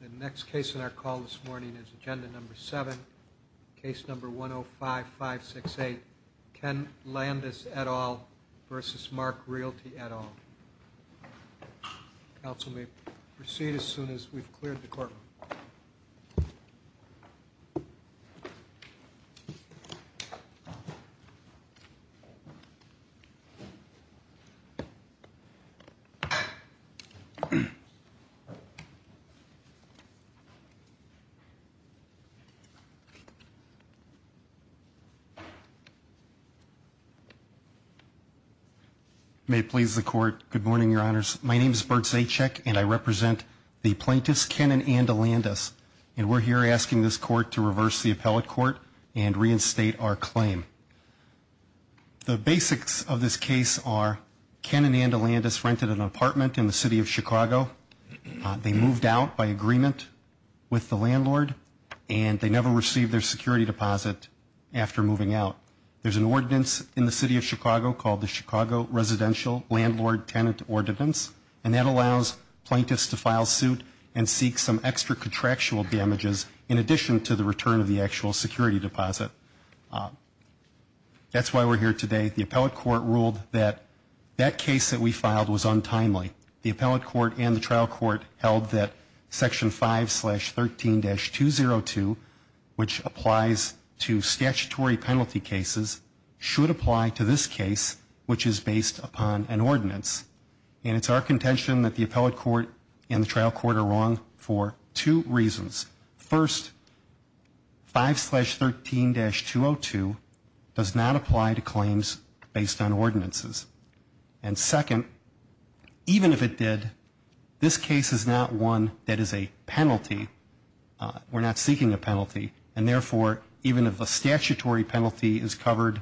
The next case in our call this morning is agenda number seven, case number 1 0 5 5 6 8. Ken Landis et al versus Marc Realty et al. Council may proceed as soon as we've cleared the courtroom. May it please the court. Good morning, your honors. My name is Bert Zajac and I represent the plaintiffs Ken and Ann DeLandis, and we're here asking this court to reverse the appellate court and reinstate our claim. The basics of this case are Ken and Ann DeLandis rented an apartment in the city of Chicago. They moved out by agreement with the landlord, and they never received their security deposit after moving out. There's an ordinance in the city of Chicago called the Chicago Residential Landlord Tenant Ordinance, and that allows plaintiffs to file suit and seek some extra contractual damages in addition to the return of the actual security deposit. That's why we're here today. The appellate court ruled that that case that we filed was untimely. The appellate court and the trial court held that section 5 slash 13 dash 202, which applies to statutory penalty cases, should apply to this case, which is based upon an ordinance. And it's our contention that the appellate court and the trial court are wrong for two reasons. First, 5 slash 13 dash 202 does not apply to claims based on ordinances. And second, even if it did, this case is not one that is a penalty. We're not seeking a penalty, and therefore, even if a statutory penalty is covered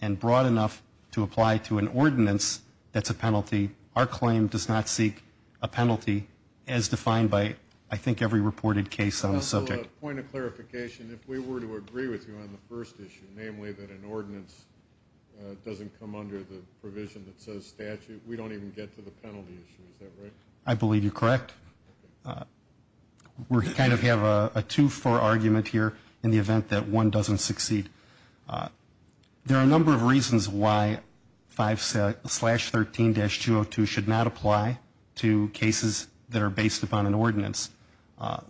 and broad enough to apply to an ordinance that's a penalty, our claim does not seek a penalty as defined by, I think, every reported case on the subject. I have a point of clarification. If we were to agree with you on the first issue, namely that an ordinance doesn't come under the provision that says statute, we don't even get to the penalty issue. Is that right? I believe you're correct. We kind of have a twofer argument here in the event that one doesn't succeed. There are a number of reasons why 5 slash 13 dash 202 should not apply to cases that are based upon an ordinance.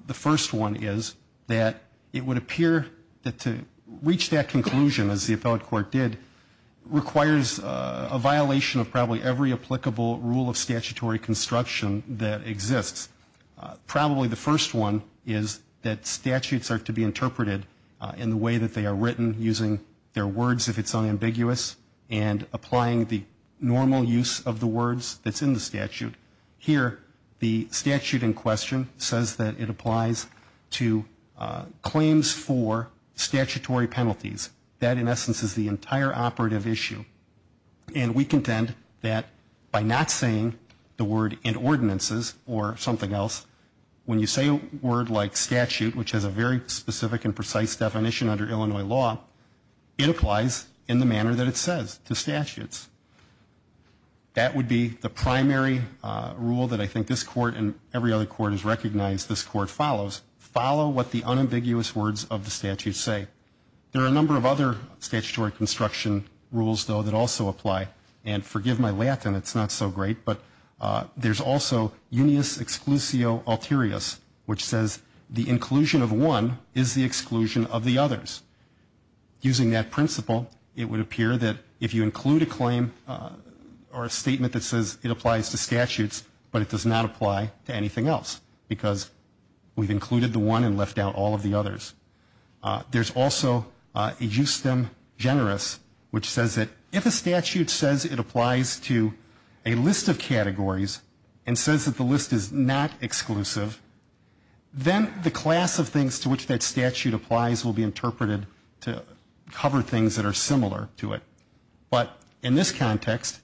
The first one is that it would appear that to reach that conclusion, as the appellate court did, requires a violation of probably every applicable rule of statutory construction that exists. Probably the first one is that statutes are to be interpreted in the way that they are written, using their words if it's unambiguous and applying the normal use of the words that's in the statute. Here, the statute in question says that it applies to claims for statutory penalties. That, in essence, is the entire operative issue. And we contend that by not saying the word in ordinances or something else, when you say a word like statute, which has a very specific and precise definition under Illinois law, it applies in the manner that it says to statutes. That would be the primary rule that I think this court and every other court has recognized this court follows. Follow what the unambiguous words of the statute say. There are a number of other statutory construction rules, though, that also apply. And forgive my Latin, it's not so great, but there's also unius exclusio alterius, which says the inclusion of one is the exclusion of the others. Using that principle, it would appear that if you include a claim or a statement that says it applies to statutes, but it does not apply to anything else, because we've included the one and left out all of the others. There's also a justem generis, which says that if a statute says it applies to a list of categories and says that the list is not exclusive, then the class of things to which that statute applies will be interpreted to cover things that are similar to it. But in this context,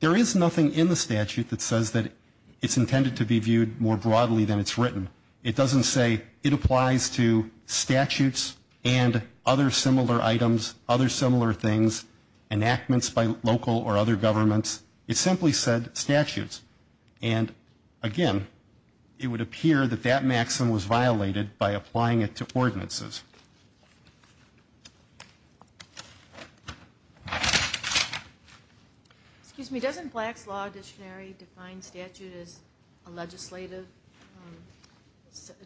there is nothing in the statute that says that it's intended to be viewed more broadly than it's written. It doesn't say it applies to statutes and other similar items, other similar things, enactments by local or other governments. It simply said statutes. And again, it would appear that that maxim was violated by applying it to ordinances. Excuse me, doesn't Black's Law Dictionary define statute as a legislative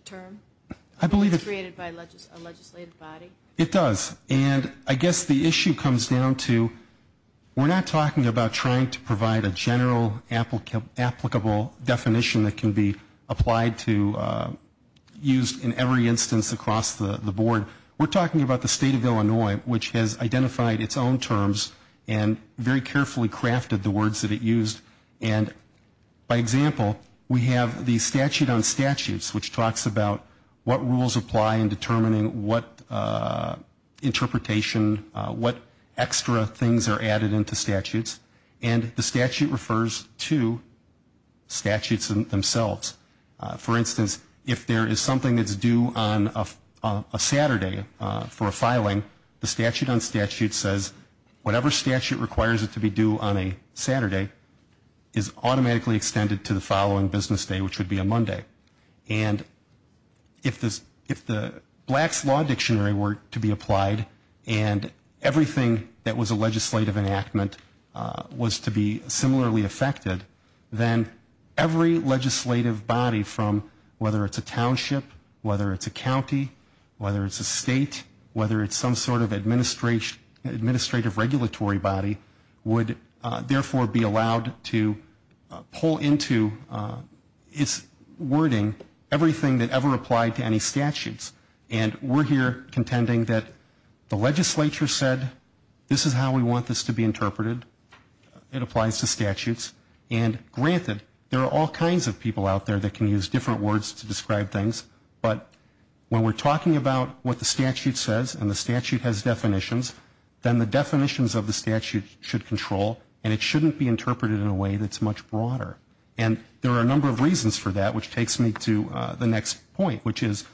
term? I believe it's created by a legislative body. It does. And I guess the issue comes down to, we're not talking about trying to provide a general applicable definition that can be applied to, used in every instance across the board. We're talking about the state of Illinois, which has identified its own terms and very carefully crafted the words that it used. And by example, we have the statute on statutes, which talks about what rules apply in determining what interpretation, what extra things are added into statutes. And the statute refers to statutes themselves. For instance, if there is something that's due on a Saturday for a filing, the statute on statutes says whatever statute requires it to be due on a Saturday is automatically extended to the following business day, which would be a Monday. And if the Black's Law Dictionary were to be applied and everything that was a legislative enactment was to be similarly affected, then every legislative body from whether it's a township, whether it's a county, whether it's a state, whether it's some sort of administrative regulatory body, would therefore be allowed to pull into what is a legislative body. And we're here contending that the legislature said this is how we want this to be interpreted. It applies to statutes. And granted, there are all kinds of people out there that can use different words to describe things. But when we're talking about what the statute says, and the statute has definitions, then the definitions of the statute should control, and it shouldn't be interpreted in a way that's much broader. And there are a number of reasons for that, which takes me to the next point, which is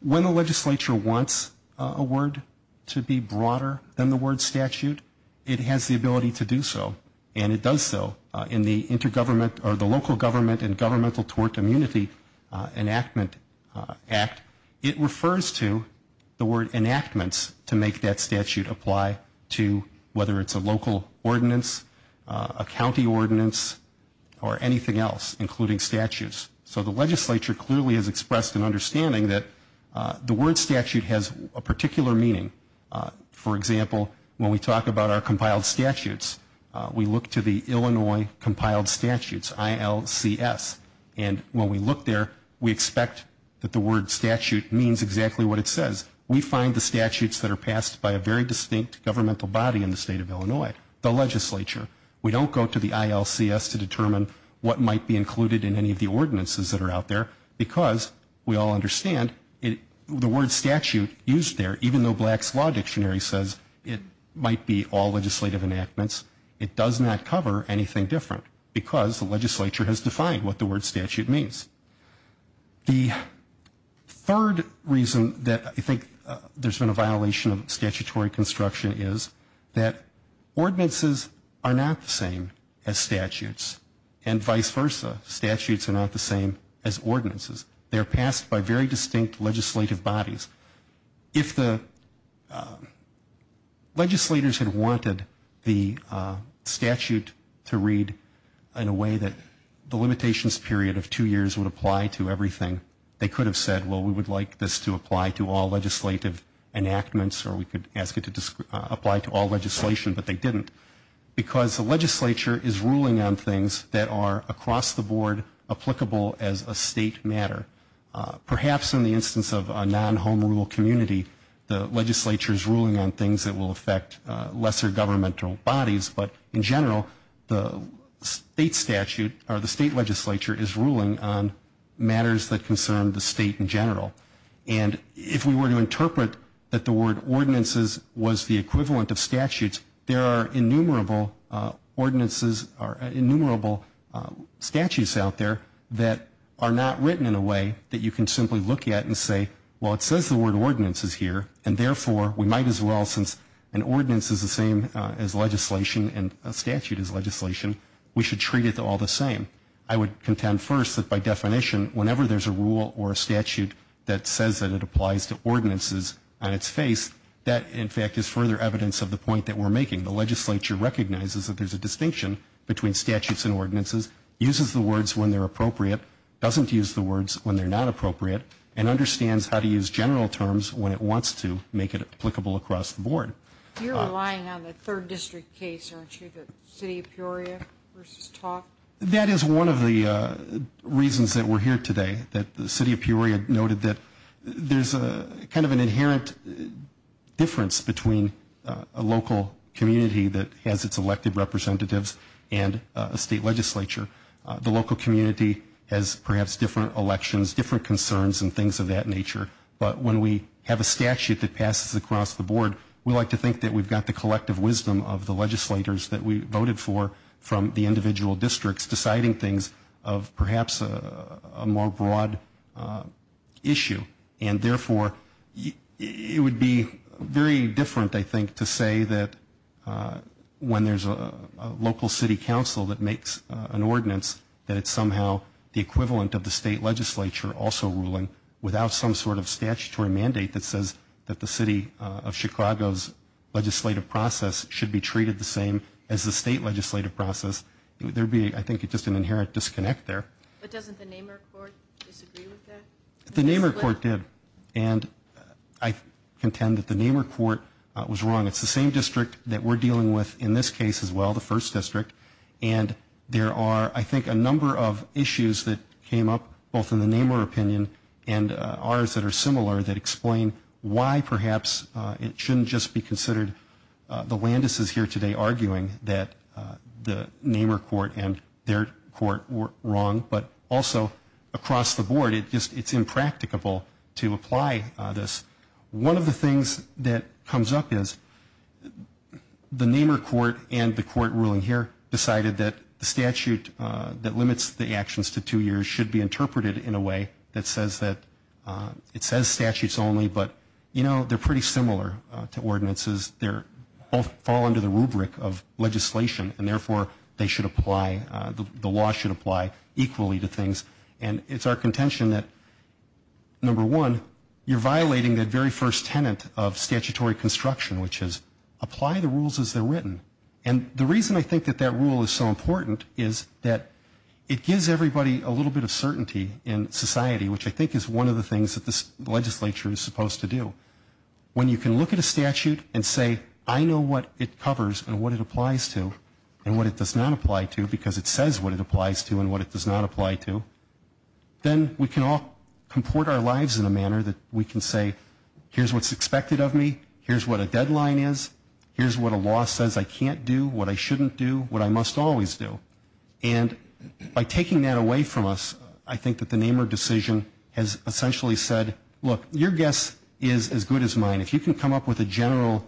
when the legislature wants a word to be broader than the word statute, it has the ability to do so. And it does so in the intergovernment, or the Local Government and Governmental Tort Immunity Enactment Act. It refers to the word enactments to make that statute apply to whether it's a local ordinance, a county ordinance, or any other ordinance. It doesn't apply to anything else, including statutes. So the legislature clearly has expressed an understanding that the word statute has a particular meaning. For example, when we talk about our compiled statutes, we look to the Illinois compiled statutes, ILCS. And when we look there, we expect that the word statute means exactly what it says. We find the statutes that are passed by a very distinct governmental body in the state of Illinois, the legislature. We don't go to the ILCS to determine what might be included in any of the ordinances that are out there, because we all understand the word statute used there, even though Black's Law Dictionary says it might be all legislative enactments, it does not cover anything different, because the legislature has defined what the word statute means. The third reason that I think there's been a violation of statutory construction is that ordinances are not necessarily the same as statutes, and vice versa. Statutes are not the same as ordinances. They are passed by very distinct legislative bodies. If the legislators had wanted the statute to read in a way that the limitations period of two years would apply to everything, they could have said, well, we would like this to apply to all legislative enactments, or we could ask it to apply to all legislation, but they didn't. Because the legislature is ruling on things that are across the board applicable as a state matter. Perhaps in the instance of a non-home rule community, the legislature is ruling on things that will affect lesser governmental bodies, but in general, the state statute, or the state legislature is ruling on matters that concern the state in general. And if we were to interpret that the word ordinances was the equivalent of statutes, there are innumerable ordinances or innumerable statutes out there that are not written in a way that you can simply look at and say, well, it says the word ordinances here, and therefore, we might as well, since an ordinance is the same as legislation and a statute is legislation, we should treat it all the same. I would contend first that by definition, whenever there's a rule or a statute that says that it applies to ordinances on its face, that, in fact, is further evidence of the point that we're making. The legislature recognizes that there's a distinction between statutes and ordinances, uses the words when they're appropriate, doesn't use the words when they're not appropriate, and understands how to use general terms when it wants to make it applicable across the board. You're relying on the third district case, aren't you, the city of Peoria versus TOC? That is one of the reasons that we're here today, that the city of Peoria noted that there's kind of an inherent difference between a local community that has its elected representatives and a state legislature. The local community has perhaps different elections, different concerns, and things of that nature. But when we have a statute that passes across the board, we like to think that we've got the collective wisdom of the legislators that we voted for from the individual districts deciding things of perhaps a more broad issue. And therefore, it would be very different, I think, to say that when there's a local city council that makes an ordinance, that it's somehow the equivalent of the state legislature also ruling without some sort of statutory mandate that says that the city of Chicago's legislative process should be treated the same as the state legislative process. There would be, I think, just an inherent disconnect there. But doesn't the Nehmer court disagree with that? The Nehmer court did, and I contend that the Nehmer court was wrong. It's the same district that we're dealing with in this case as well, the first district. And there are, I think, a number of issues that came up both in the Nehmer opinion and ours that are similar that explain why perhaps it shouldn't just be considered the Landis' here today arguing that the Nehmer court and their court were wrong. But also across the board, it's impracticable to apply this. One of the things that comes up is the Nehmer court and the court ruling here decided that the statute that limits the actions to two years should be interpreted in a way that says that, it says statutes only, but you know, they're pretty similar to ordinances. They both fall under the rubric of legislation, and therefore, they should apply, the law should apply equally. And it's our contention that, number one, you're violating the very first tenet of statutory construction, which is apply the rules as they're written. And the reason I think that that rule is so important is that it gives everybody a little bit of certainty in society, which I think is one of the things that this legislature is supposed to do. When you can look at a statute and say, I know what it covers and what it applies to and what it does not apply to, because it says what it applies to and what it does not apply to, then we can all comport our lives in a manner that we can say, here's what's expected of me, here's what a deadline is, here's what a law says I can't do, what I shouldn't do, what I must always do. And by taking that away from us, I think that the Nehmer decision has essentially said, look, your guess is as good as mine. If you can come up with a general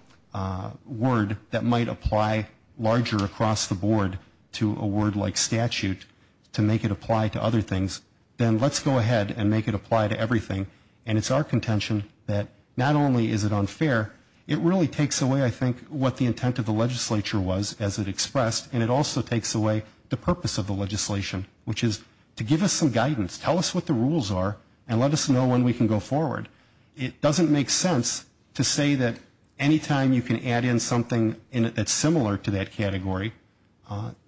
word that might apply larger across the board to a word like statute to make it apply to other things, then let's go ahead and make it apply to everything. And it's our contention that not only is it unfair, it really takes away, I think, what the intent of the legislature was as it expressed, and it also takes away the purpose of the legislation, which is to give us some guidance, tell us what the rules are, and let us know when we can go forward. It doesn't make sense to say that any time you can add in something that's similar to that category,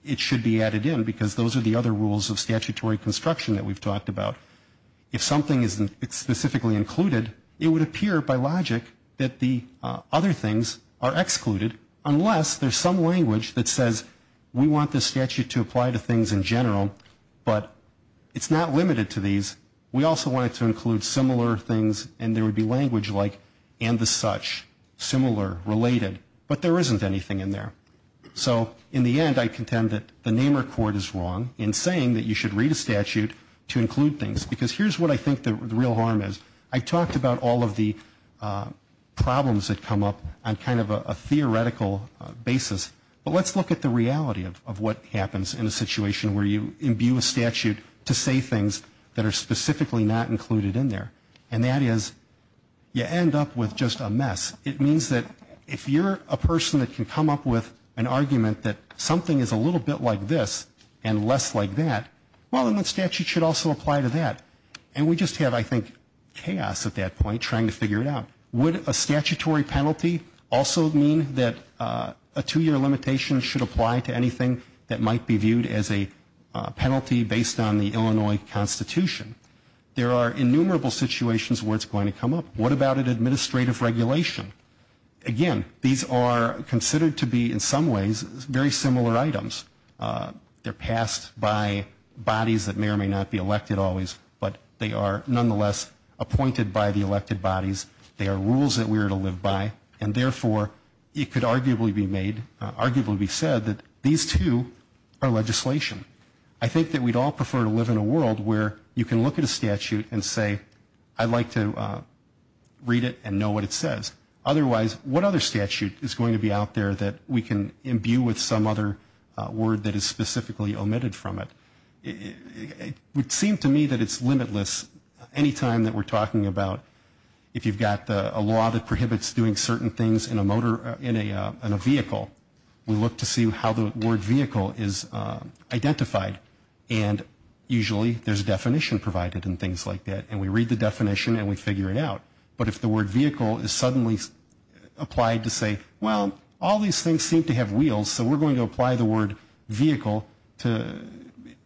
it should be added in, because those are the other rules of statutory construction that we've talked about. If something is specifically included, it would appear by logic that the other things are excluded, unless there's some language that says we want this statute to apply to things in general, but it's not limited to these. We also want it to include similar things, and there would be language like and the such, similar, related, but there isn't anything in there. So in the end, I contend that the Nehmer court is wrong in saying that you should read a statute to include things, because here's what I think the real harm is. I've talked about all of the problems that come up on kind of a theoretical basis, but let's look at the reality of what happens in a situation where you imbue a statute to say things that are specifically not included in there. And that is you end up with just a mess. It means that if you're a person that can come up with an argument that something is a little bit like this and less like that, well, then the statute should also apply to that. And we just have, I think, chaos at that point trying to figure it out. Would a statutory penalty also mean that a two-year limitation should apply to anything that might be viewed as a penalty based on the Illinois Constitution? There are innumerable situations where it's going to come up. What about an administrative regulation? Again, these are considered to be, in some ways, very similar items. They're passed by bodies that may or may not be elected bodies. They are rules that we are to live by. And therefore, it could arguably be made, arguably be said that these two are legislation. I think that we'd all prefer to live in a world where you can look at a statute and say, I'd like to read it and know what it says. Otherwise, what other statute is going to be out there that we can imbue with some other word that is specifically omitted from it? It could be a law that prohibits doing certain things in a vehicle. We look to see how the word vehicle is identified. And usually, there's a definition provided and things like that. And we read the definition and we figure it out. But if the word vehicle is suddenly applied to say, well, all these things seem to have wheels, so we're going to apply the word vehicle to,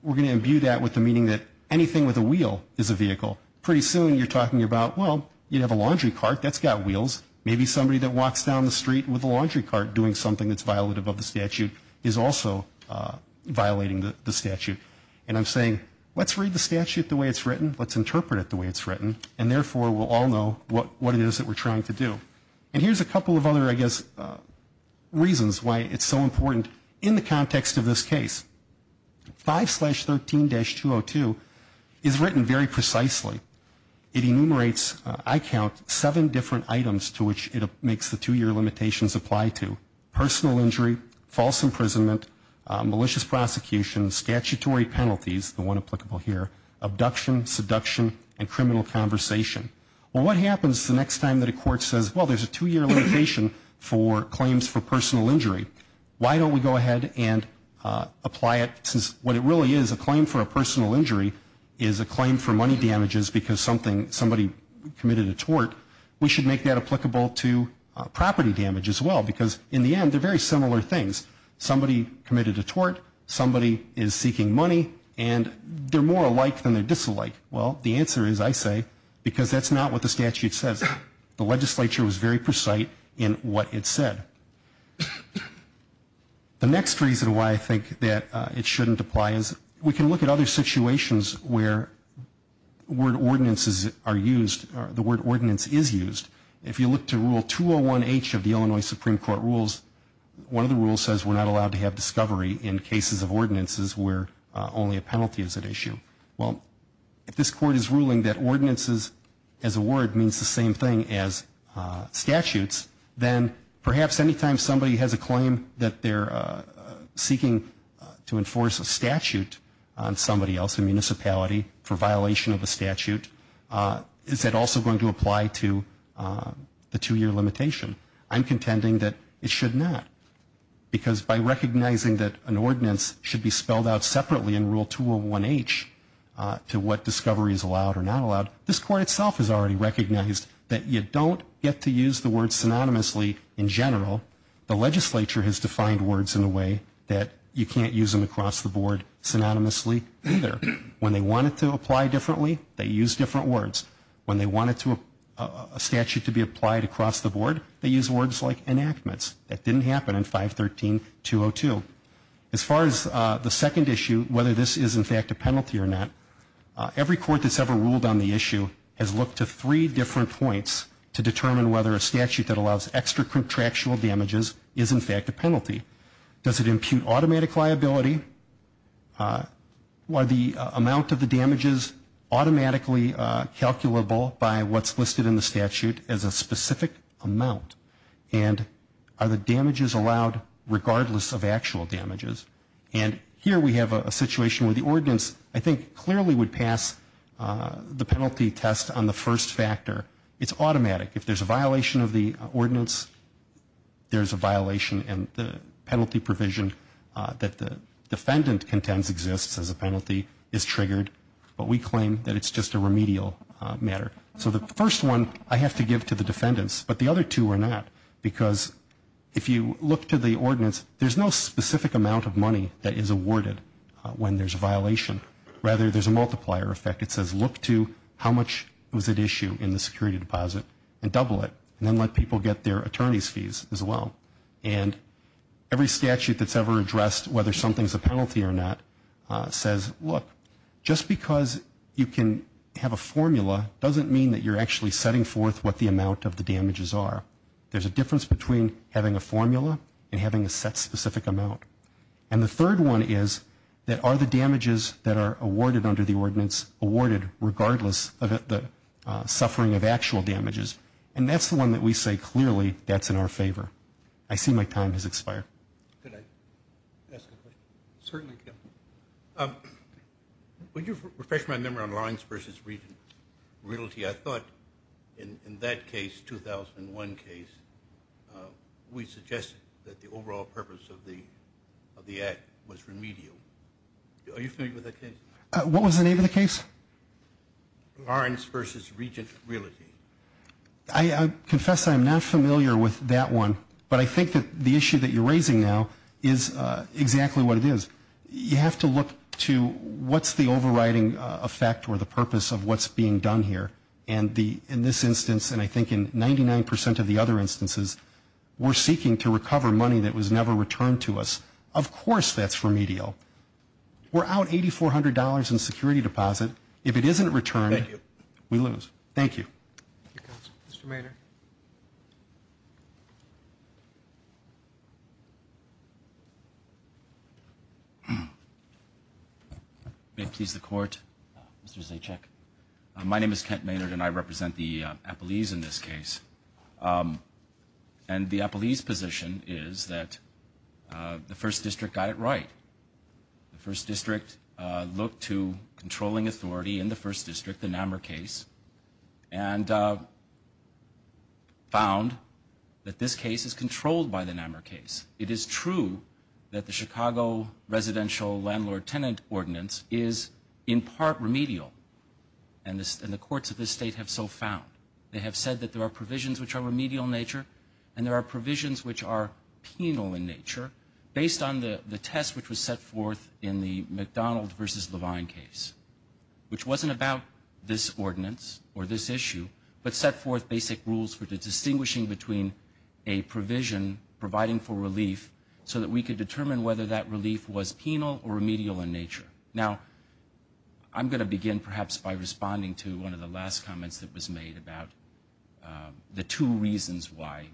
we're going to imbue that with the meaning that anything with a wheel is a vehicle. Pretty soon, you're talking about, well, you'd have a laundry cart that's got wheels. Maybe somebody that walks down the street with a laundry cart doing something that's violative of the statute is also violating the statute. And I'm saying, let's read the statute the way it's written. Let's interpret it the way it's written. And therefore, we'll all know what it is that we're trying to do. And here's a couple of other, I guess, reasons why it's so important in the context of this case. 5-13-202 is written very precisely. It enumerates, I count, seven different items to which it makes the two-year limitations apply to. Personal injury, false imprisonment, malicious prosecution, statutory penalties, the one applicable here, abduction, seduction, and criminal conversation. Well, what happens the next time that a court says, well, there's a two-year limitation for claims for personal injury, and we should apply it, since what it really is, a claim for a personal injury is a claim for money damages because somebody committed a tort, we should make that applicable to property damage as well. Because in the end, they're very similar things. Somebody committed a tort, somebody is seeking money, and they're more alike than they're disalike. Well, the answer is, I say, because that's not what the statute says. The legislature was very precise in what it said. The next reason why I think that it shouldn't apply is, we can look at other situations where word ordinances are used, the word ordinance is used. If you look to Rule 201H of the Illinois Supreme Court rules, one of the rules says we're not allowed to have discovery in cases of ordinances where only a penalty is at issue. Well, if this court is ruling that ordinances as a word means the same thing as statutes, then perhaps any time somebody has a claim that they're seeking to enforce a statute on somebody else in municipality for violation of a statute, is that also going to apply to the two-year limitation? I'm contending that it should not. Because by recognizing that an ordinance should be spelled out separately in Rule 201H to what discovery is allowed or not that you don't get to use the word synonymously in general, the legislature has defined words in a way that you can't use them across the board synonymously either. When they want it to apply differently, they use different words. When they want a statute to be applied across the board, they use words like enactments. That didn't happen in 513-202. As far as the second issue, whether this is in fact a penalty or not, every court that's ever ruled on the issue has looked to three different points to determine whether a statute that allows extra contractual damages is in fact a penalty. Does it impute automatic liability? Are the amount of the damages automatically calculable by what's listed in the statute as a specific amount? And are the damages allowed regardless of actual damages? And here we have a situation where the ordinance I think clearly would pass the penalty test on the first factor. It's automatic. If there's a violation of the ordinance, there's a violation and the penalty provision that the defendant contends exists as a penalty is triggered. But we claim that it's just a remedial matter. So the first one I have to give to the defendants, but the other two are not. Because if you look to the ordinance, there's no violation. Rather, there's a multiplier effect. It says look to how much was at issue in the security deposit and double it and then let people get their attorney's fees as well. And every statute that's ever addressed whether something's a penalty or not says, look, just because you can have a formula doesn't mean that you're actually setting forth what the amount of the damages are. There's a difference between having a formula and having a set specific amount. And the third one is that are the damages that are awarded under the ordinance awarded regardless of the suffering of actual damages. And that's the one that we say clearly that's in our favor. I see my time has expired. When you refresh my memory on lines versus realty, I thought in that case, 2001 case, we suggested that the overall purpose of the act was to recover money that was never returned to us. Of course that's for medium. What was the name of the case? Lawrence versus Regent Realty. I confess I'm not familiar with that one, but I think that the issue that you're raising now is exactly what it is. You have to look to what's the overriding effect or the purpose of what's being done here. And in this instance, and I think in 99 percent of the other instances, we're seeking to recover money that was never returned to us. Of course that's for medial. We're out $8,400 in security deposit. If it isn't returned, we lose. Thank you. Mr. Maynard. May it please the Court, Mr. Zajac. My name is Kent Maynard and I represent the Appalese in this case. And the Appalese position is that the First District got it right. The First District looked to controlling authority in the First District, the NAMR case, and found that this case is controlled by the NAMR case. It is true that the Chicago residential landlord-tenant ordinance is in part remedial. And the courts of this state have so found. They have said that there are provisions which are remedial in nature and there are provisions which are penal in nature based on the test which was set forth in the McDonald versus Levine case, which wasn't about this ordinance or this issue, but set forth basic rules for distinguishing between a provision providing for relief so that we could determine whether that relief was penal or remedial in nature. Now, I'm going to begin perhaps by responding to one of the last comments that was made about the two reasons why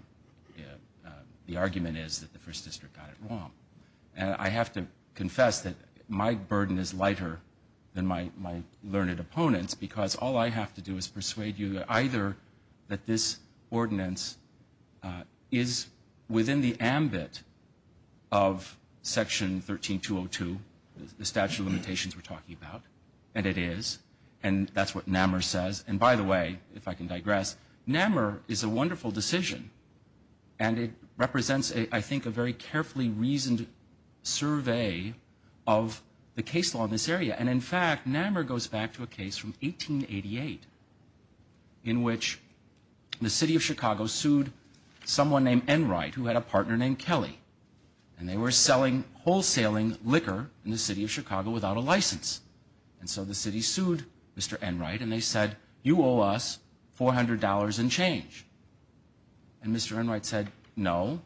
the argument is that the First District got it wrong. And I have to confess that my burden is lighter than my learned opponents because all I have to do is persuade you either that this ordinance is within the ambit of Section 13202, the statute of limitations we're talking about, and it is, and that's what NAMR says, and that's what the Appalese Constitution says. And by the way, if I can digress, NAMR is a wonderful decision, and it represents, I think, a very carefully reasoned survey of the case law in this area. And in fact, NAMR goes back to a case from 1888 in which the city of Chicago sued someone named Enright who had a partner named Kelly, and they were selling wholesaling liquor in the city of Chicago without a penalty. And they said, you owe us $400 and change. And Mr. Enright said, no,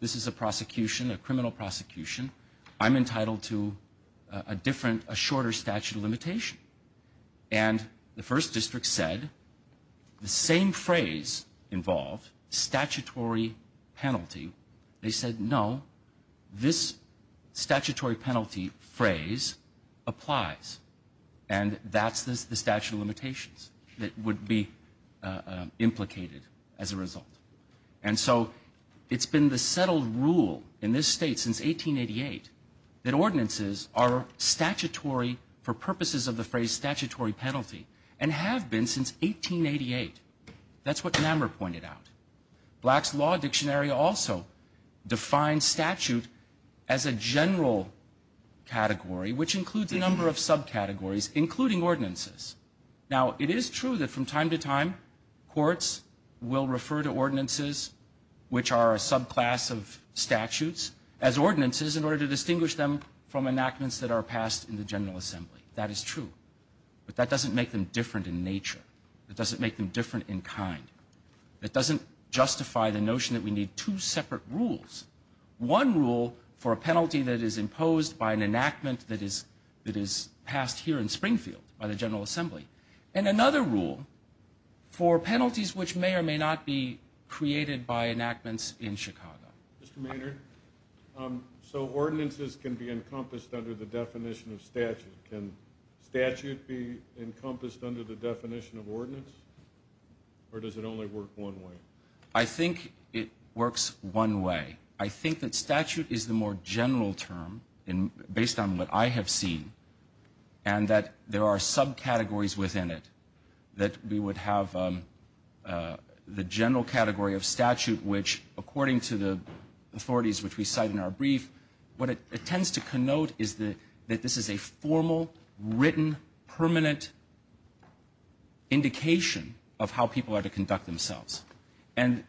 this is a prosecution, a criminal prosecution. I'm entitled to a different, a shorter statute of limitation. And the First District said, the same phrase involved, statutory penalty. They said, no, this statutory penalty phrase applies. And that's the statute of limitations, that you owe us $400 and change, would be implicated as a result. And so it's been the settled rule in this state since 1888 that ordinances are statutory for purposes of the phrase statutory penalty, and have been since 1888. That's what NAMR pointed out. Black's Law Dictionary also defines statute as a general category, which includes a number of subcategories, including ordinances. Now, it is true that from time to time, courts will refer to ordinances, which are a subclass of statutes, as ordinances in order to distinguish them from enactments that are passed in the General Assembly. That is true. But that doesn't make them different in nature. It doesn't make them different in kind. It doesn't justify the notion that we need two separate rules. One rule for a penalty that is imposed by an enactment that is passed here in Springfield by the General Assembly, and another rule that is passed in Chicago by the General Assembly, and a third rule for penalties which may or may not be created by enactments in Chicago. Mr. Maynard, so ordinances can be encompassed under the definition of statute. Can statute be encompassed under the definition of ordinance, or does it only work one way? I think it works one way. I think that statute is the more general term, based on what I have seen, and that there are subcategories within it that we would have the general category of statute which, according to the authorities which we cite in our brief, what it tends to connote is that this is a formal, written, permanent indication of how people are to conduct themselves. And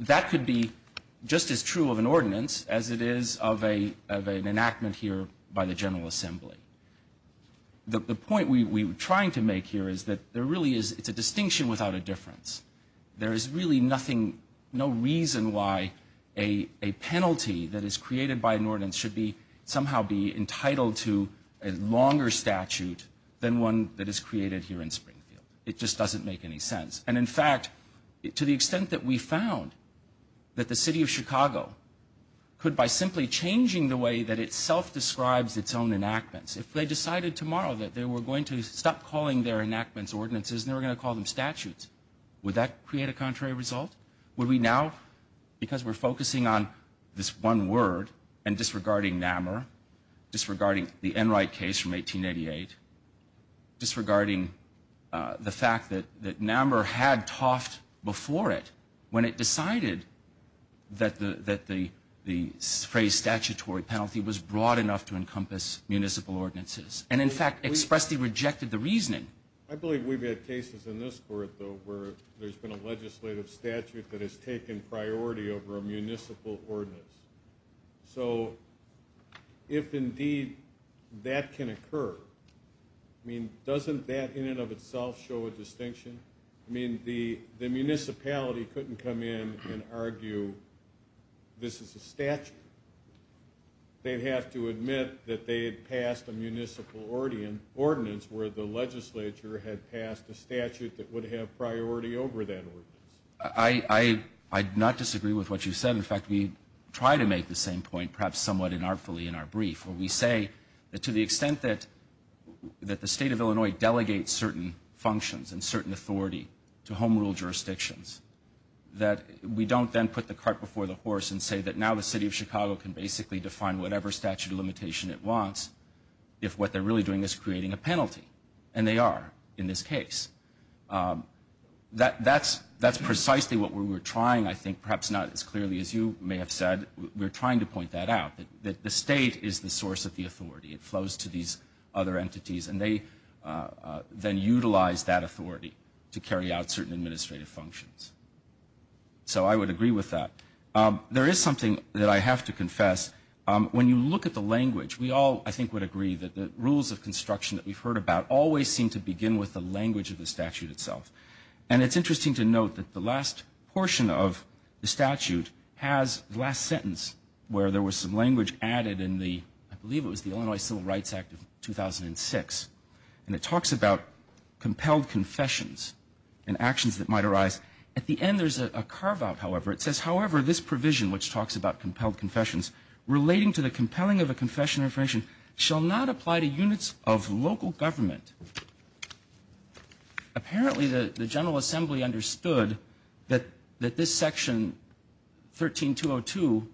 that could be just as true of an ordinance as it is of an enactment here by the General Assembly. The point we are trying to make here is that there really is a distinction without a difference. There is really nothing, no reason why a penalty that is created by an ordinance should somehow be entitled to a longer statute than one that is created here in Springfield. It just doesn't make any sense. And in fact, to the extent that we found that the city of Chicago could, by simply changing the way that it self-describes its own enactments, if they decided tomorrow that they were going to stop calling their enactments ordinances and they were going to call them statutes, would that create a contrary result? Would we now, because we're focusing on this one word and disregarding NAMR, disregarding the Enright case from 1888, disregarding the fact that NAMR had toffed before it when it decided that the phrase statutory penalty was broad enough to encompass municipal ordinances? And in fact, expressly rejected the reasoning. I believe we've had cases in this court, though, where there's been a legislative statute that has taken priority over a municipal ordinance. So if indeed that can occur, I mean, doesn't that in and of itself show a distinction? I mean, the municipality couldn't come in and argue this is a statute. They'd have to admit that they had passed a municipal ordinance where the legislature had passed a statute that would have priority over that ordinance. I do not disagree with what you said. In fact, we try to make the same point, perhaps somewhat inartfully in our brief, where we say that to the extent that the state of Illinois delegates certain functions and certain authority to home rule jurisdictions, that we don't then put the cart before the horse and say that now the city of Chicago can basically define whatever statute of limitation it wants if what they're really doing is creating a penalty. And they are in this case. That's precisely what we're trying, I think, perhaps not as clearly as you may have said. We're trying to point that out, that the state is the source of the authority. It flows to these other entities, and they then utilize that authority to carry out certain administrative functions. So I would agree with that. There is something that I have to confess. When you look at the language, we all, I think, would agree that the rules of construction that we've heard about always seem to begin with the language of the statute itself. And it's interesting to note that the last portion of the statute has the last sentence where there was some language added in the, I believe it was the Illinois Civil Rights Act of 2006, and it talks about compelled confessions and actions that are might arise. At the end there's a carve-out, however. It says, however, this provision, which talks about compelled confessions, relating to the compelling of a confession or information, shall not apply to units of local government. Apparently the General Assembly understood that this section 13202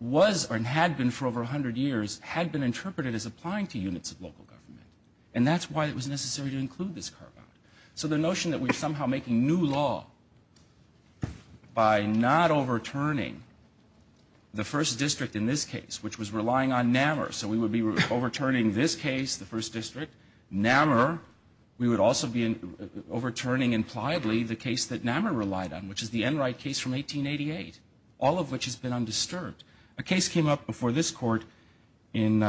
was, or had been for over 100 years, had been interpreted as applying to units of local government. And that's why it was necessary to include this carve-out. So the notion that we are somehow making new law by not overturning the first district in this case, which was relying on NAMR, so we would be overturning this case, the first district, NAMR, we would also be overturning, impliedly, the case that NAMR relied on, which is the Enright case from 1888, all of which has been undisturbed. A case came up before this court in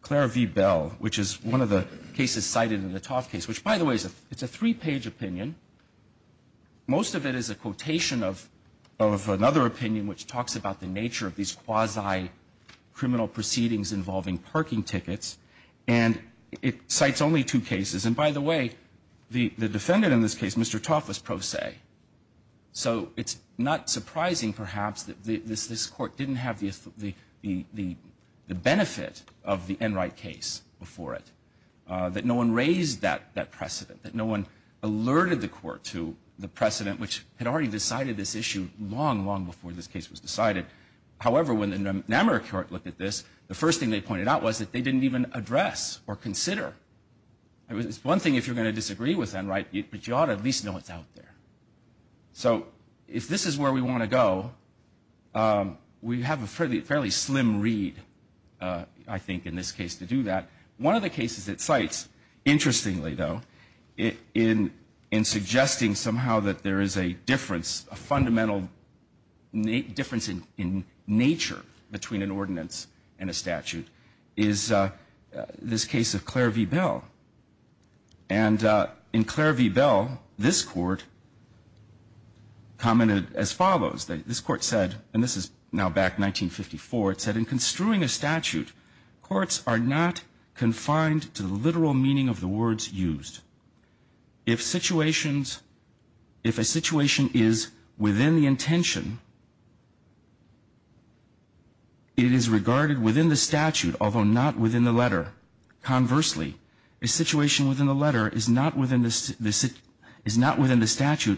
Claire v. Bell, which is one of the cases cited in the Tauf case, which, by the way, is a three-page opinion. Most of it is a quotation of another opinion which talks about the nature of these quasi-criminal proceedings involving parking tickets. And it cites only two cases. And, by the way, the defendant in this case, Mr. Tauf, was pro se. So it's not surprising, perhaps, that this court didn't have the benefit of the Enright case before it, that no one raised that precedent, that no one alerted the court to the precedent which had already decided this issue long, long before this case was decided. However, when the NAMR court looked at this, the first thing they pointed out was that they didn't even address or consider. It's one thing if you're going to disagree with Enright, but you ought to at least know what's out there. So if this is where we want to go, we have a fairly slim read, I think, in this case, to do that. One of the cases it cites, interestingly, though, in suggesting somehow that there is a difference, a fundamental difference in nature between an ordinance and a statute, is this case of Clare v. Bell. And in Clare v. Bell, this court commented as follows. This court said, and this is now back 1954, it said, in construing a statute, courts are not confined to the literal meaning of the words used. If situations, if a situation is within the intention, it is regarded within the statute, although not within the letter. Conversely, a situation within the letter is not within the statute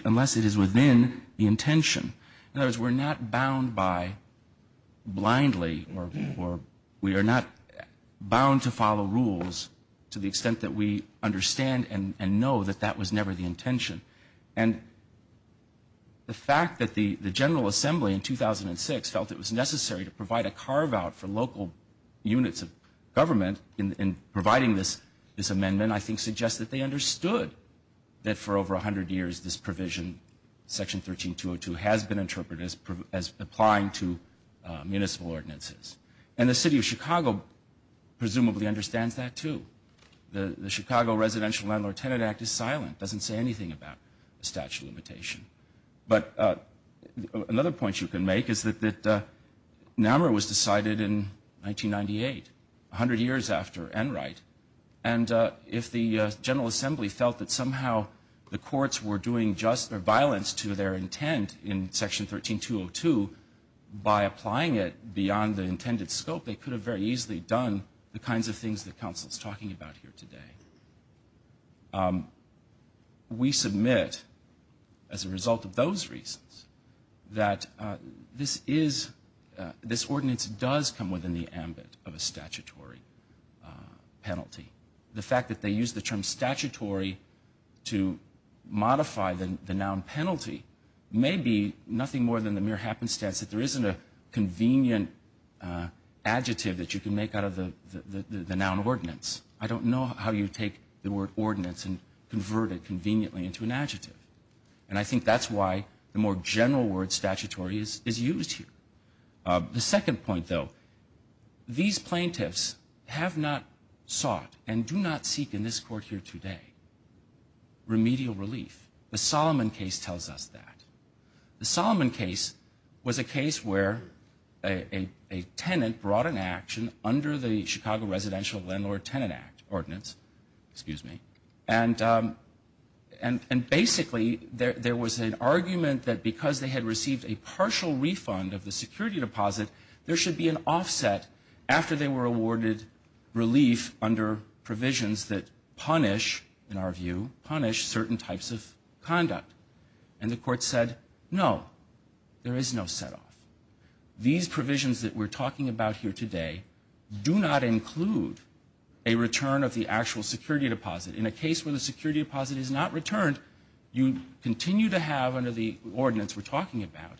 unless it is within the intention. In other words, we're not bound by, blindly, or we are not bound to follow the rules to the extent that we understand and know that that was never the intention. And the fact that the General Assembly, in 2006, felt it was necessary to provide a carve-out for local units of government in providing this amendment, I think, suggests that they understood that for over 100 years this provision, Section 13202, has been interpreted as applying to municipal ordinances. And the City of Chicago, presumably, understands that. And the City of Chicago understands that, too. The Chicago Residential Landlord-Tenant Act is silent, doesn't say anything about a statute of limitation. But another point you can make is that NAMRA was decided in 1998, 100 years after Enright. And if the General Assembly felt that somehow the courts were doing just or violence to their intent in Section 13202, by applying it beyond the intended scope, they could have very easily done the kinds of things that the Council is talking about here today. We submit, as a result of those reasons, that this ordinance does come within the ambit of a statutory penalty. The fact that they use the term statutory to modify the noun penalty may be nothing more than the mere happenstance that there isn't a convenient adjective that you can make out of the noun ordinance. I don't know how you take the word ordinance and convert it conveniently into an adjective. And I think that's why the more general word statutory is used here. The second point, though, these plaintiffs have not sought, and do not seek in this court here today, remedial relief. The Solomon case tells us that. The Solomon case was a case where a tenant brought an action under the name of a tenant. And the tenant was brought under the Chicago Residential Landlord Tenant Ordinance. And basically, there was an argument that because they had received a partial refund of the security deposit, there should be an offset after they were awarded relief under provisions that punish, in our view, punish certain types of conduct. And the court said, no, there is no setoff. These provisions that we're talking about here today do not include a return of the actual security deposit. In a case where the security deposit is not returned, you continue to have under the ordinance we're talking about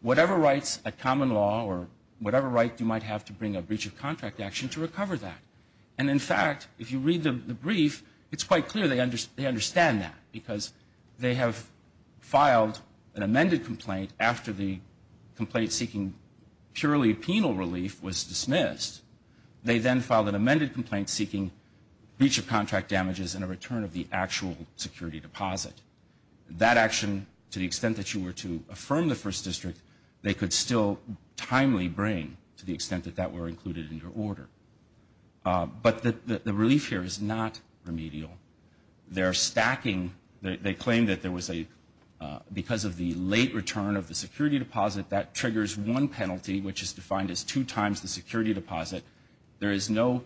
whatever rights, a common law or whatever right you might have to bring a breach of contract action to recover that. And in fact, if you read the brief, it's quite clear they understand that because they have filed an amended complaint after the complaint seeking purely penal relief was dismissed, they then filed an amended complaint seeking breach of contract damages and a return of the actual security deposit. That action, to the extent that you were to affirm the First District, they could still timely bring to the extent that that were included in your order. But the relief here is not remedial. They're stacking, they claim that there was a, they're stacking because of the late return of the security deposit. That triggers one penalty, which is defined as two times the security deposit. There is no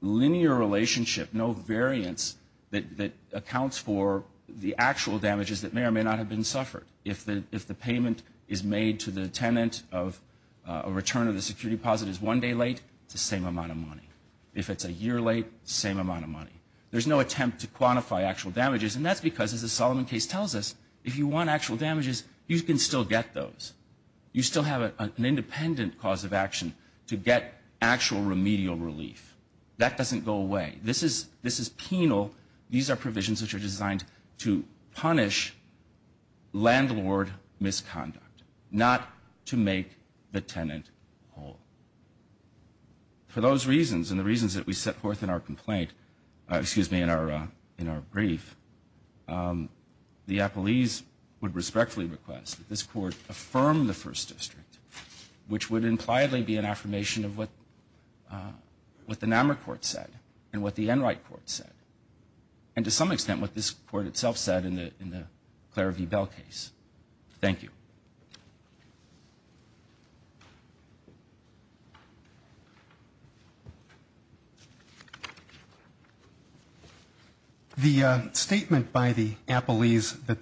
linear relationship, no variance that accounts for the actual damages that may or may not have been suffered. If the payment is made to the tenant of a return of the security deposit is one day late, it's the same amount of money. If it's a year late, same amount of money. There's no attempt to quantify actual damages. And that's because, as the Solomon case tells us, if you want actual damages, you can still get those. You still have an independent cause of action to get actual remedial relief. That doesn't go away. This is, this is penal. These are provisions which are designed to punish landlord misconduct, not to make the tenant whole. For those reasons and the other reasons, the appellees would respectfully request that this Court affirm the First District, which would impliedly be an affirmation of what, what the Namur Court said and what the Enright Court said. And to some extent, what this Court itself said in the, in the Claire v. Bell case. Thank you. The statement by the appellees that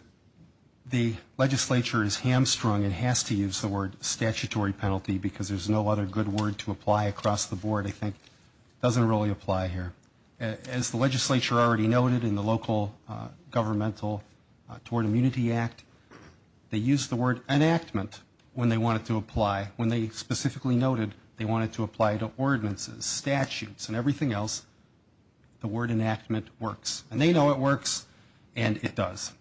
the legislature is hamstrung and has to use the word statutory penalty, because there's no other good word to apply across the board, I think, doesn't really apply here. As the legislature already noted in the local governmental Toward Immunity Act, they used the word enactment when they wanted to apply. When they specifically noted they wanted to apply to ordinances, statutes, and everything else, the word enactment works. And they know it works, and it does.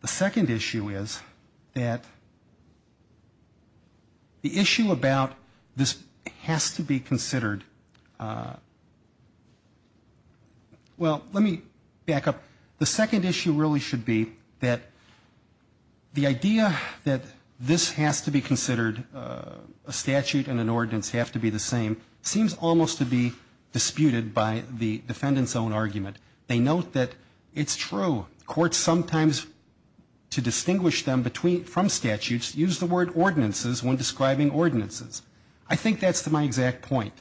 The second issue is that the issue about this has to be considered, well, the second issue really should be that the idea that this has to be considered, a statute and an ordinance have to be the same, seems almost to be disputed by the defendant's own argument. They note that it's true. Courts sometimes, to distinguish them from statutes, use the word ordinances when describing ordinances. I think that's my exact point.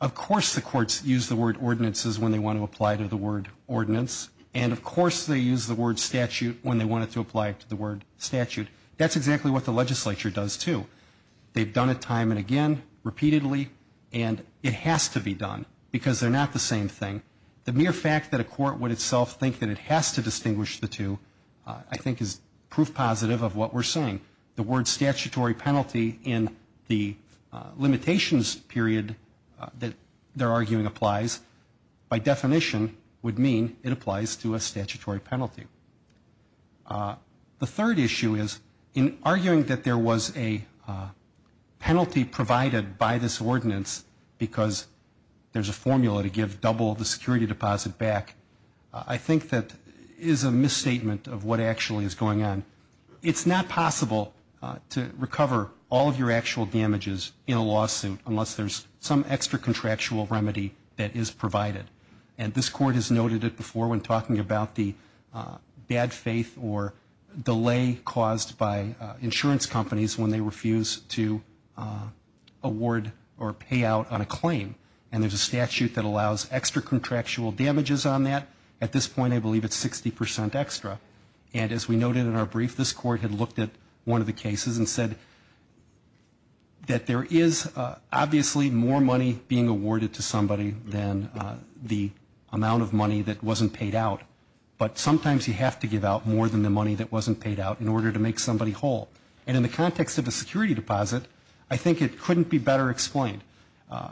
Of course the courts use the word ordinances when they want to apply to the word ordinance, and of course they use the word statute when they want it to apply to the word statute. That's exactly what the legislature does, too. They've done it time and again, repeatedly, and it has to be done, because they're not the same thing. The mere fact that a court would itself think that it has to distinguish the two, I think, is proof positive of what we're saying. The word statute, the statute that they're arguing applies, by definition would mean it applies to a statutory penalty. The third issue is, in arguing that there was a penalty provided by this ordinance because there's a formula to give double the security deposit back, I think that is a misstatement of what actually is going on. It's not possible to recover all of your actual damages in a lawsuit unless there's some extra contractual remedy that is provided. And this court has noted it before when talking about the bad faith or delay caused by insurance companies when they refuse to award or pay out on a claim. And there's a statute that allows extra contractual damages on that. At this point I believe it's 60 percent extra. And as we noted in our brief, this court had looked at one of the cases and said that there is obviously more money being awarded to somebody than the amount of money that wasn't paid out. But sometimes you have to give out more than the money that wasn't paid out in order to make somebody whole. And in the context of a security deposit, I think it couldn't be better explained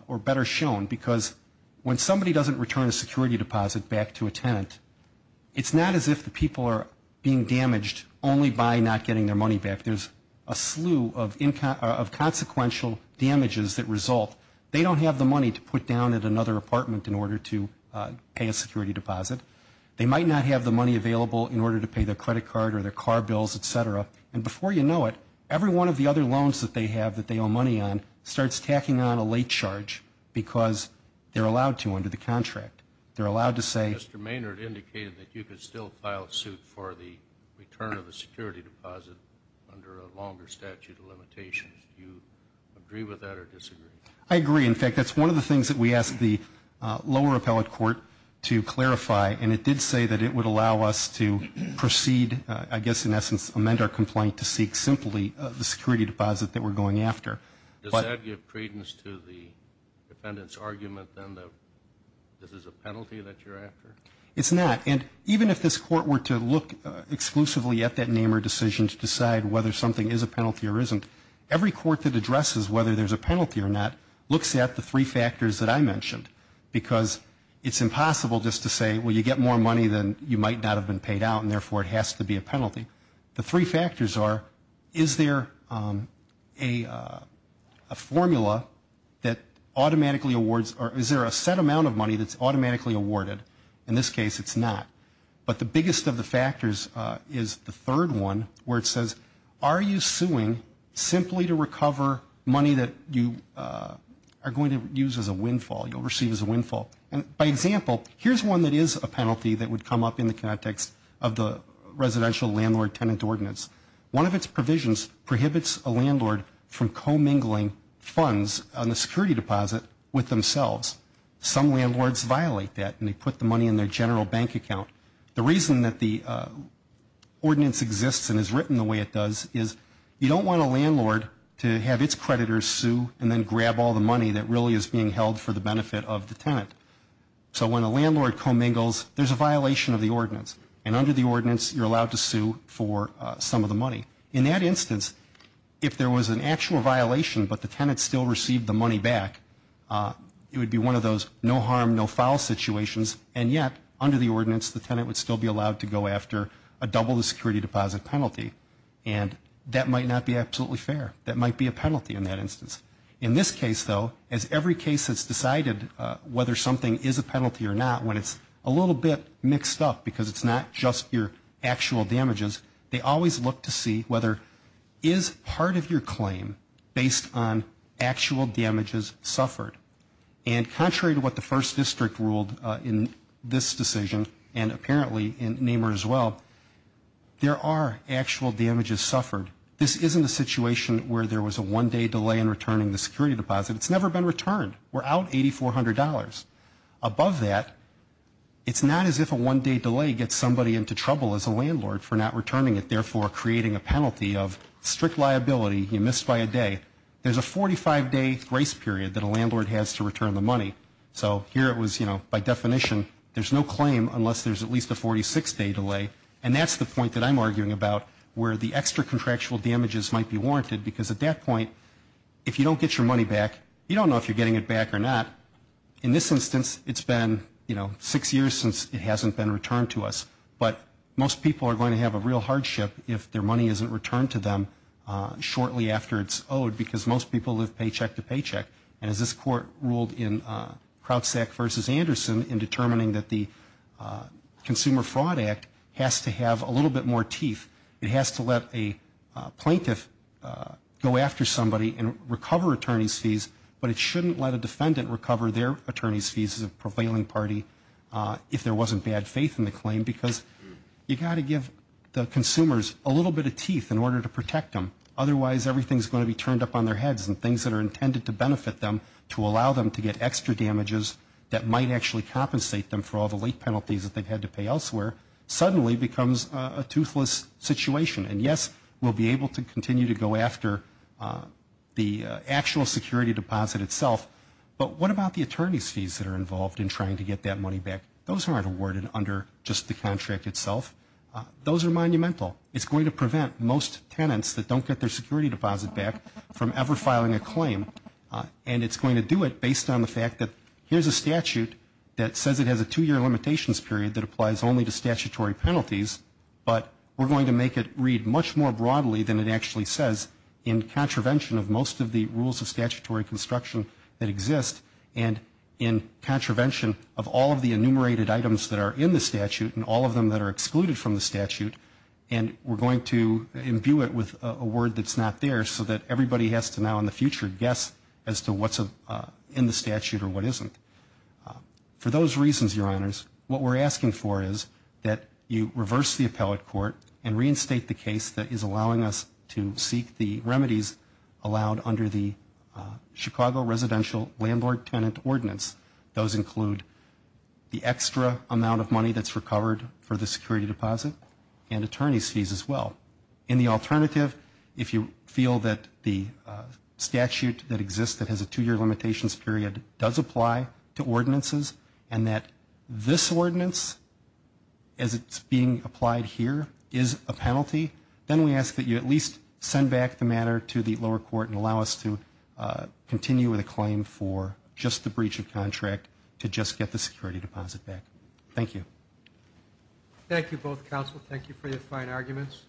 or better shown, because when somebody doesn't return a security deposit back to a tenant, it's not as if the people are being damaged only by not getting their money back. There's a slew of consequential damages that result. They don't have the money to put down at another apartment in order to pay a security deposit. They might not have the money available in order to pay their credit card or their car bills, et cetera. And before you know it, every one of the other loans that they have that they owe money on starts tacking on a late charge because they're allowed to under the contract. They're allowed to say Mr. Maynard indicated that you could still file a suit for the return of the security deposit under a longer statute of limitations. Do you agree with that or disagree? I agree. In fact, that's one of the things that we asked the lower appellate court to clarify. And it did say that it would allow us to proceed, I guess in essence, amend our complaint to seek simply the security deposit that we're going after. Does that give credence to the defendant's argument than the defendant's argument? This is a penalty that you're after? It's not. And even if this court were to look exclusively at that name or decision to decide whether something is a penalty or isn't, every court that addresses whether there's a penalty or not looks at the three factors that I mentioned. Because it's impossible just to say, well, you get more money than you might not have been paid out and therefore it has to be a penalty. The three factors are, is there a formula that automatically awards or is there a set penalty that's automatically awarded? In this case, it's not. But the biggest of the factors is the third one, where it says, are you suing simply to recover money that you are going to use as a windfall, you'll receive as a windfall? And by example, here's one that is a penalty that would come up in the context of the residential landlord tenant ordinance. One of its provisions prohibits a landlord from commingling funds on the security deposit with themselves. Some landlords violate that and they put the money in their general bank account. The reason that the ordinance exists and is written the way it does is you don't want a landlord to have its creditors sue and then grab all the money that really is being held for the benefit of the tenant. So when a landlord commingles, there's a violation of the ordinance. And under the ordinance, you're allowed to sue for some of the money. In that instance, if there was an actual violation, but the tenant still received the money back, it would be one of those no harm, no foul situations. And yet, under the ordinance, the tenant would still be allowed to go after a double the security deposit penalty. And that might not be absolutely fair. That might be a penalty in that instance. In this case, though, as every case that's decided whether something is a penalty or not, when it's a little bit mixed up because it's not just your actual damages, they are a part of your claim based on actual damages suffered. And contrary to what the first district ruled in this decision, and apparently in Nehmer as well, there are actual damages suffered. This isn't a situation where there was a one-day delay in returning the security deposit. It's never been returned. We're out $8,400. Above that, it's not as if a one-day delay gets somebody into trouble as a landlord for not returning it, therefore creating a penalty of strict liability. You missed by a day. There's a 45-day grace period that a landlord has to return the money. So here it was, you know, by definition, there's no claim unless there's at least a 46-day delay. And that's the point that I'm arguing about where the extra contractual damages might be warranted because at that point, if you don't get your money back, you don't know if you're getting it back or not. In this instance, it's been, you know, six years since it hasn't been returned to us. But most people are going to have a real hardship if their money isn't returned to them shortly after it's owed because most people live paycheck to paycheck. And as this Court ruled in Krautsack v. Anderson in determining that the Consumer Fraud Act has to have a little bit more teeth, it has to let a plaintiff go after somebody and recover attorney's fees, but it shouldn't let a defendant recover their attorney's fees as a prevailing party if there wasn't bad faith in the case. You've got to give the consumers a little bit of teeth in order to protect them. Otherwise, everything's going to be turned up on their heads and things that are intended to benefit them to allow them to get extra damages that might actually compensate them for all the late penalties that they've had to pay elsewhere suddenly becomes a toothless situation. And yes, we'll be able to continue to go after the actual security deposit itself, but what about the attorney's fees that are involved in trying to get that money back? Those aren't awarded under just the contract itself. Those are monumental. It's going to prevent most tenants that don't get their security deposit back from ever filing a claim. And it's going to do it based on the fact that here's a statute that says it has a two-year limitations period that applies only to statutory penalties, but we're going to make it read much more broadly than it actually says in contravention of most of the rules of statutory construction that exist, and in contravention of all of the enumerated items that are in the statute and all of them that are excluded from the statute, and we're going to imbue it with a word that's not there so that everybody has to now in the future guess as to what's in the statute or what isn't. For those reasons, Your Honors, what we're asking for is that you reverse the appellate court and reinstate the case that is allowing us to seek the remedies allowed under the Chicago Residential Landlord-Tenant Ordinance. Those include the extra amount of money that's recovered for the security deposit and attorney's fees as well. In the alternative, if you feel that the statute that exists that has a two-year limitations period does apply to ordinances and that this ordinance, as it's being applied here, is a penalty, then we're going to make it a two-year limitation. Then we ask that you at least send back the matter to the lower court and allow us to continue with a claim for just the breach of contract to just get the security deposit back. Thank you. Thank you, both counsel. Thank you for your fine arguments.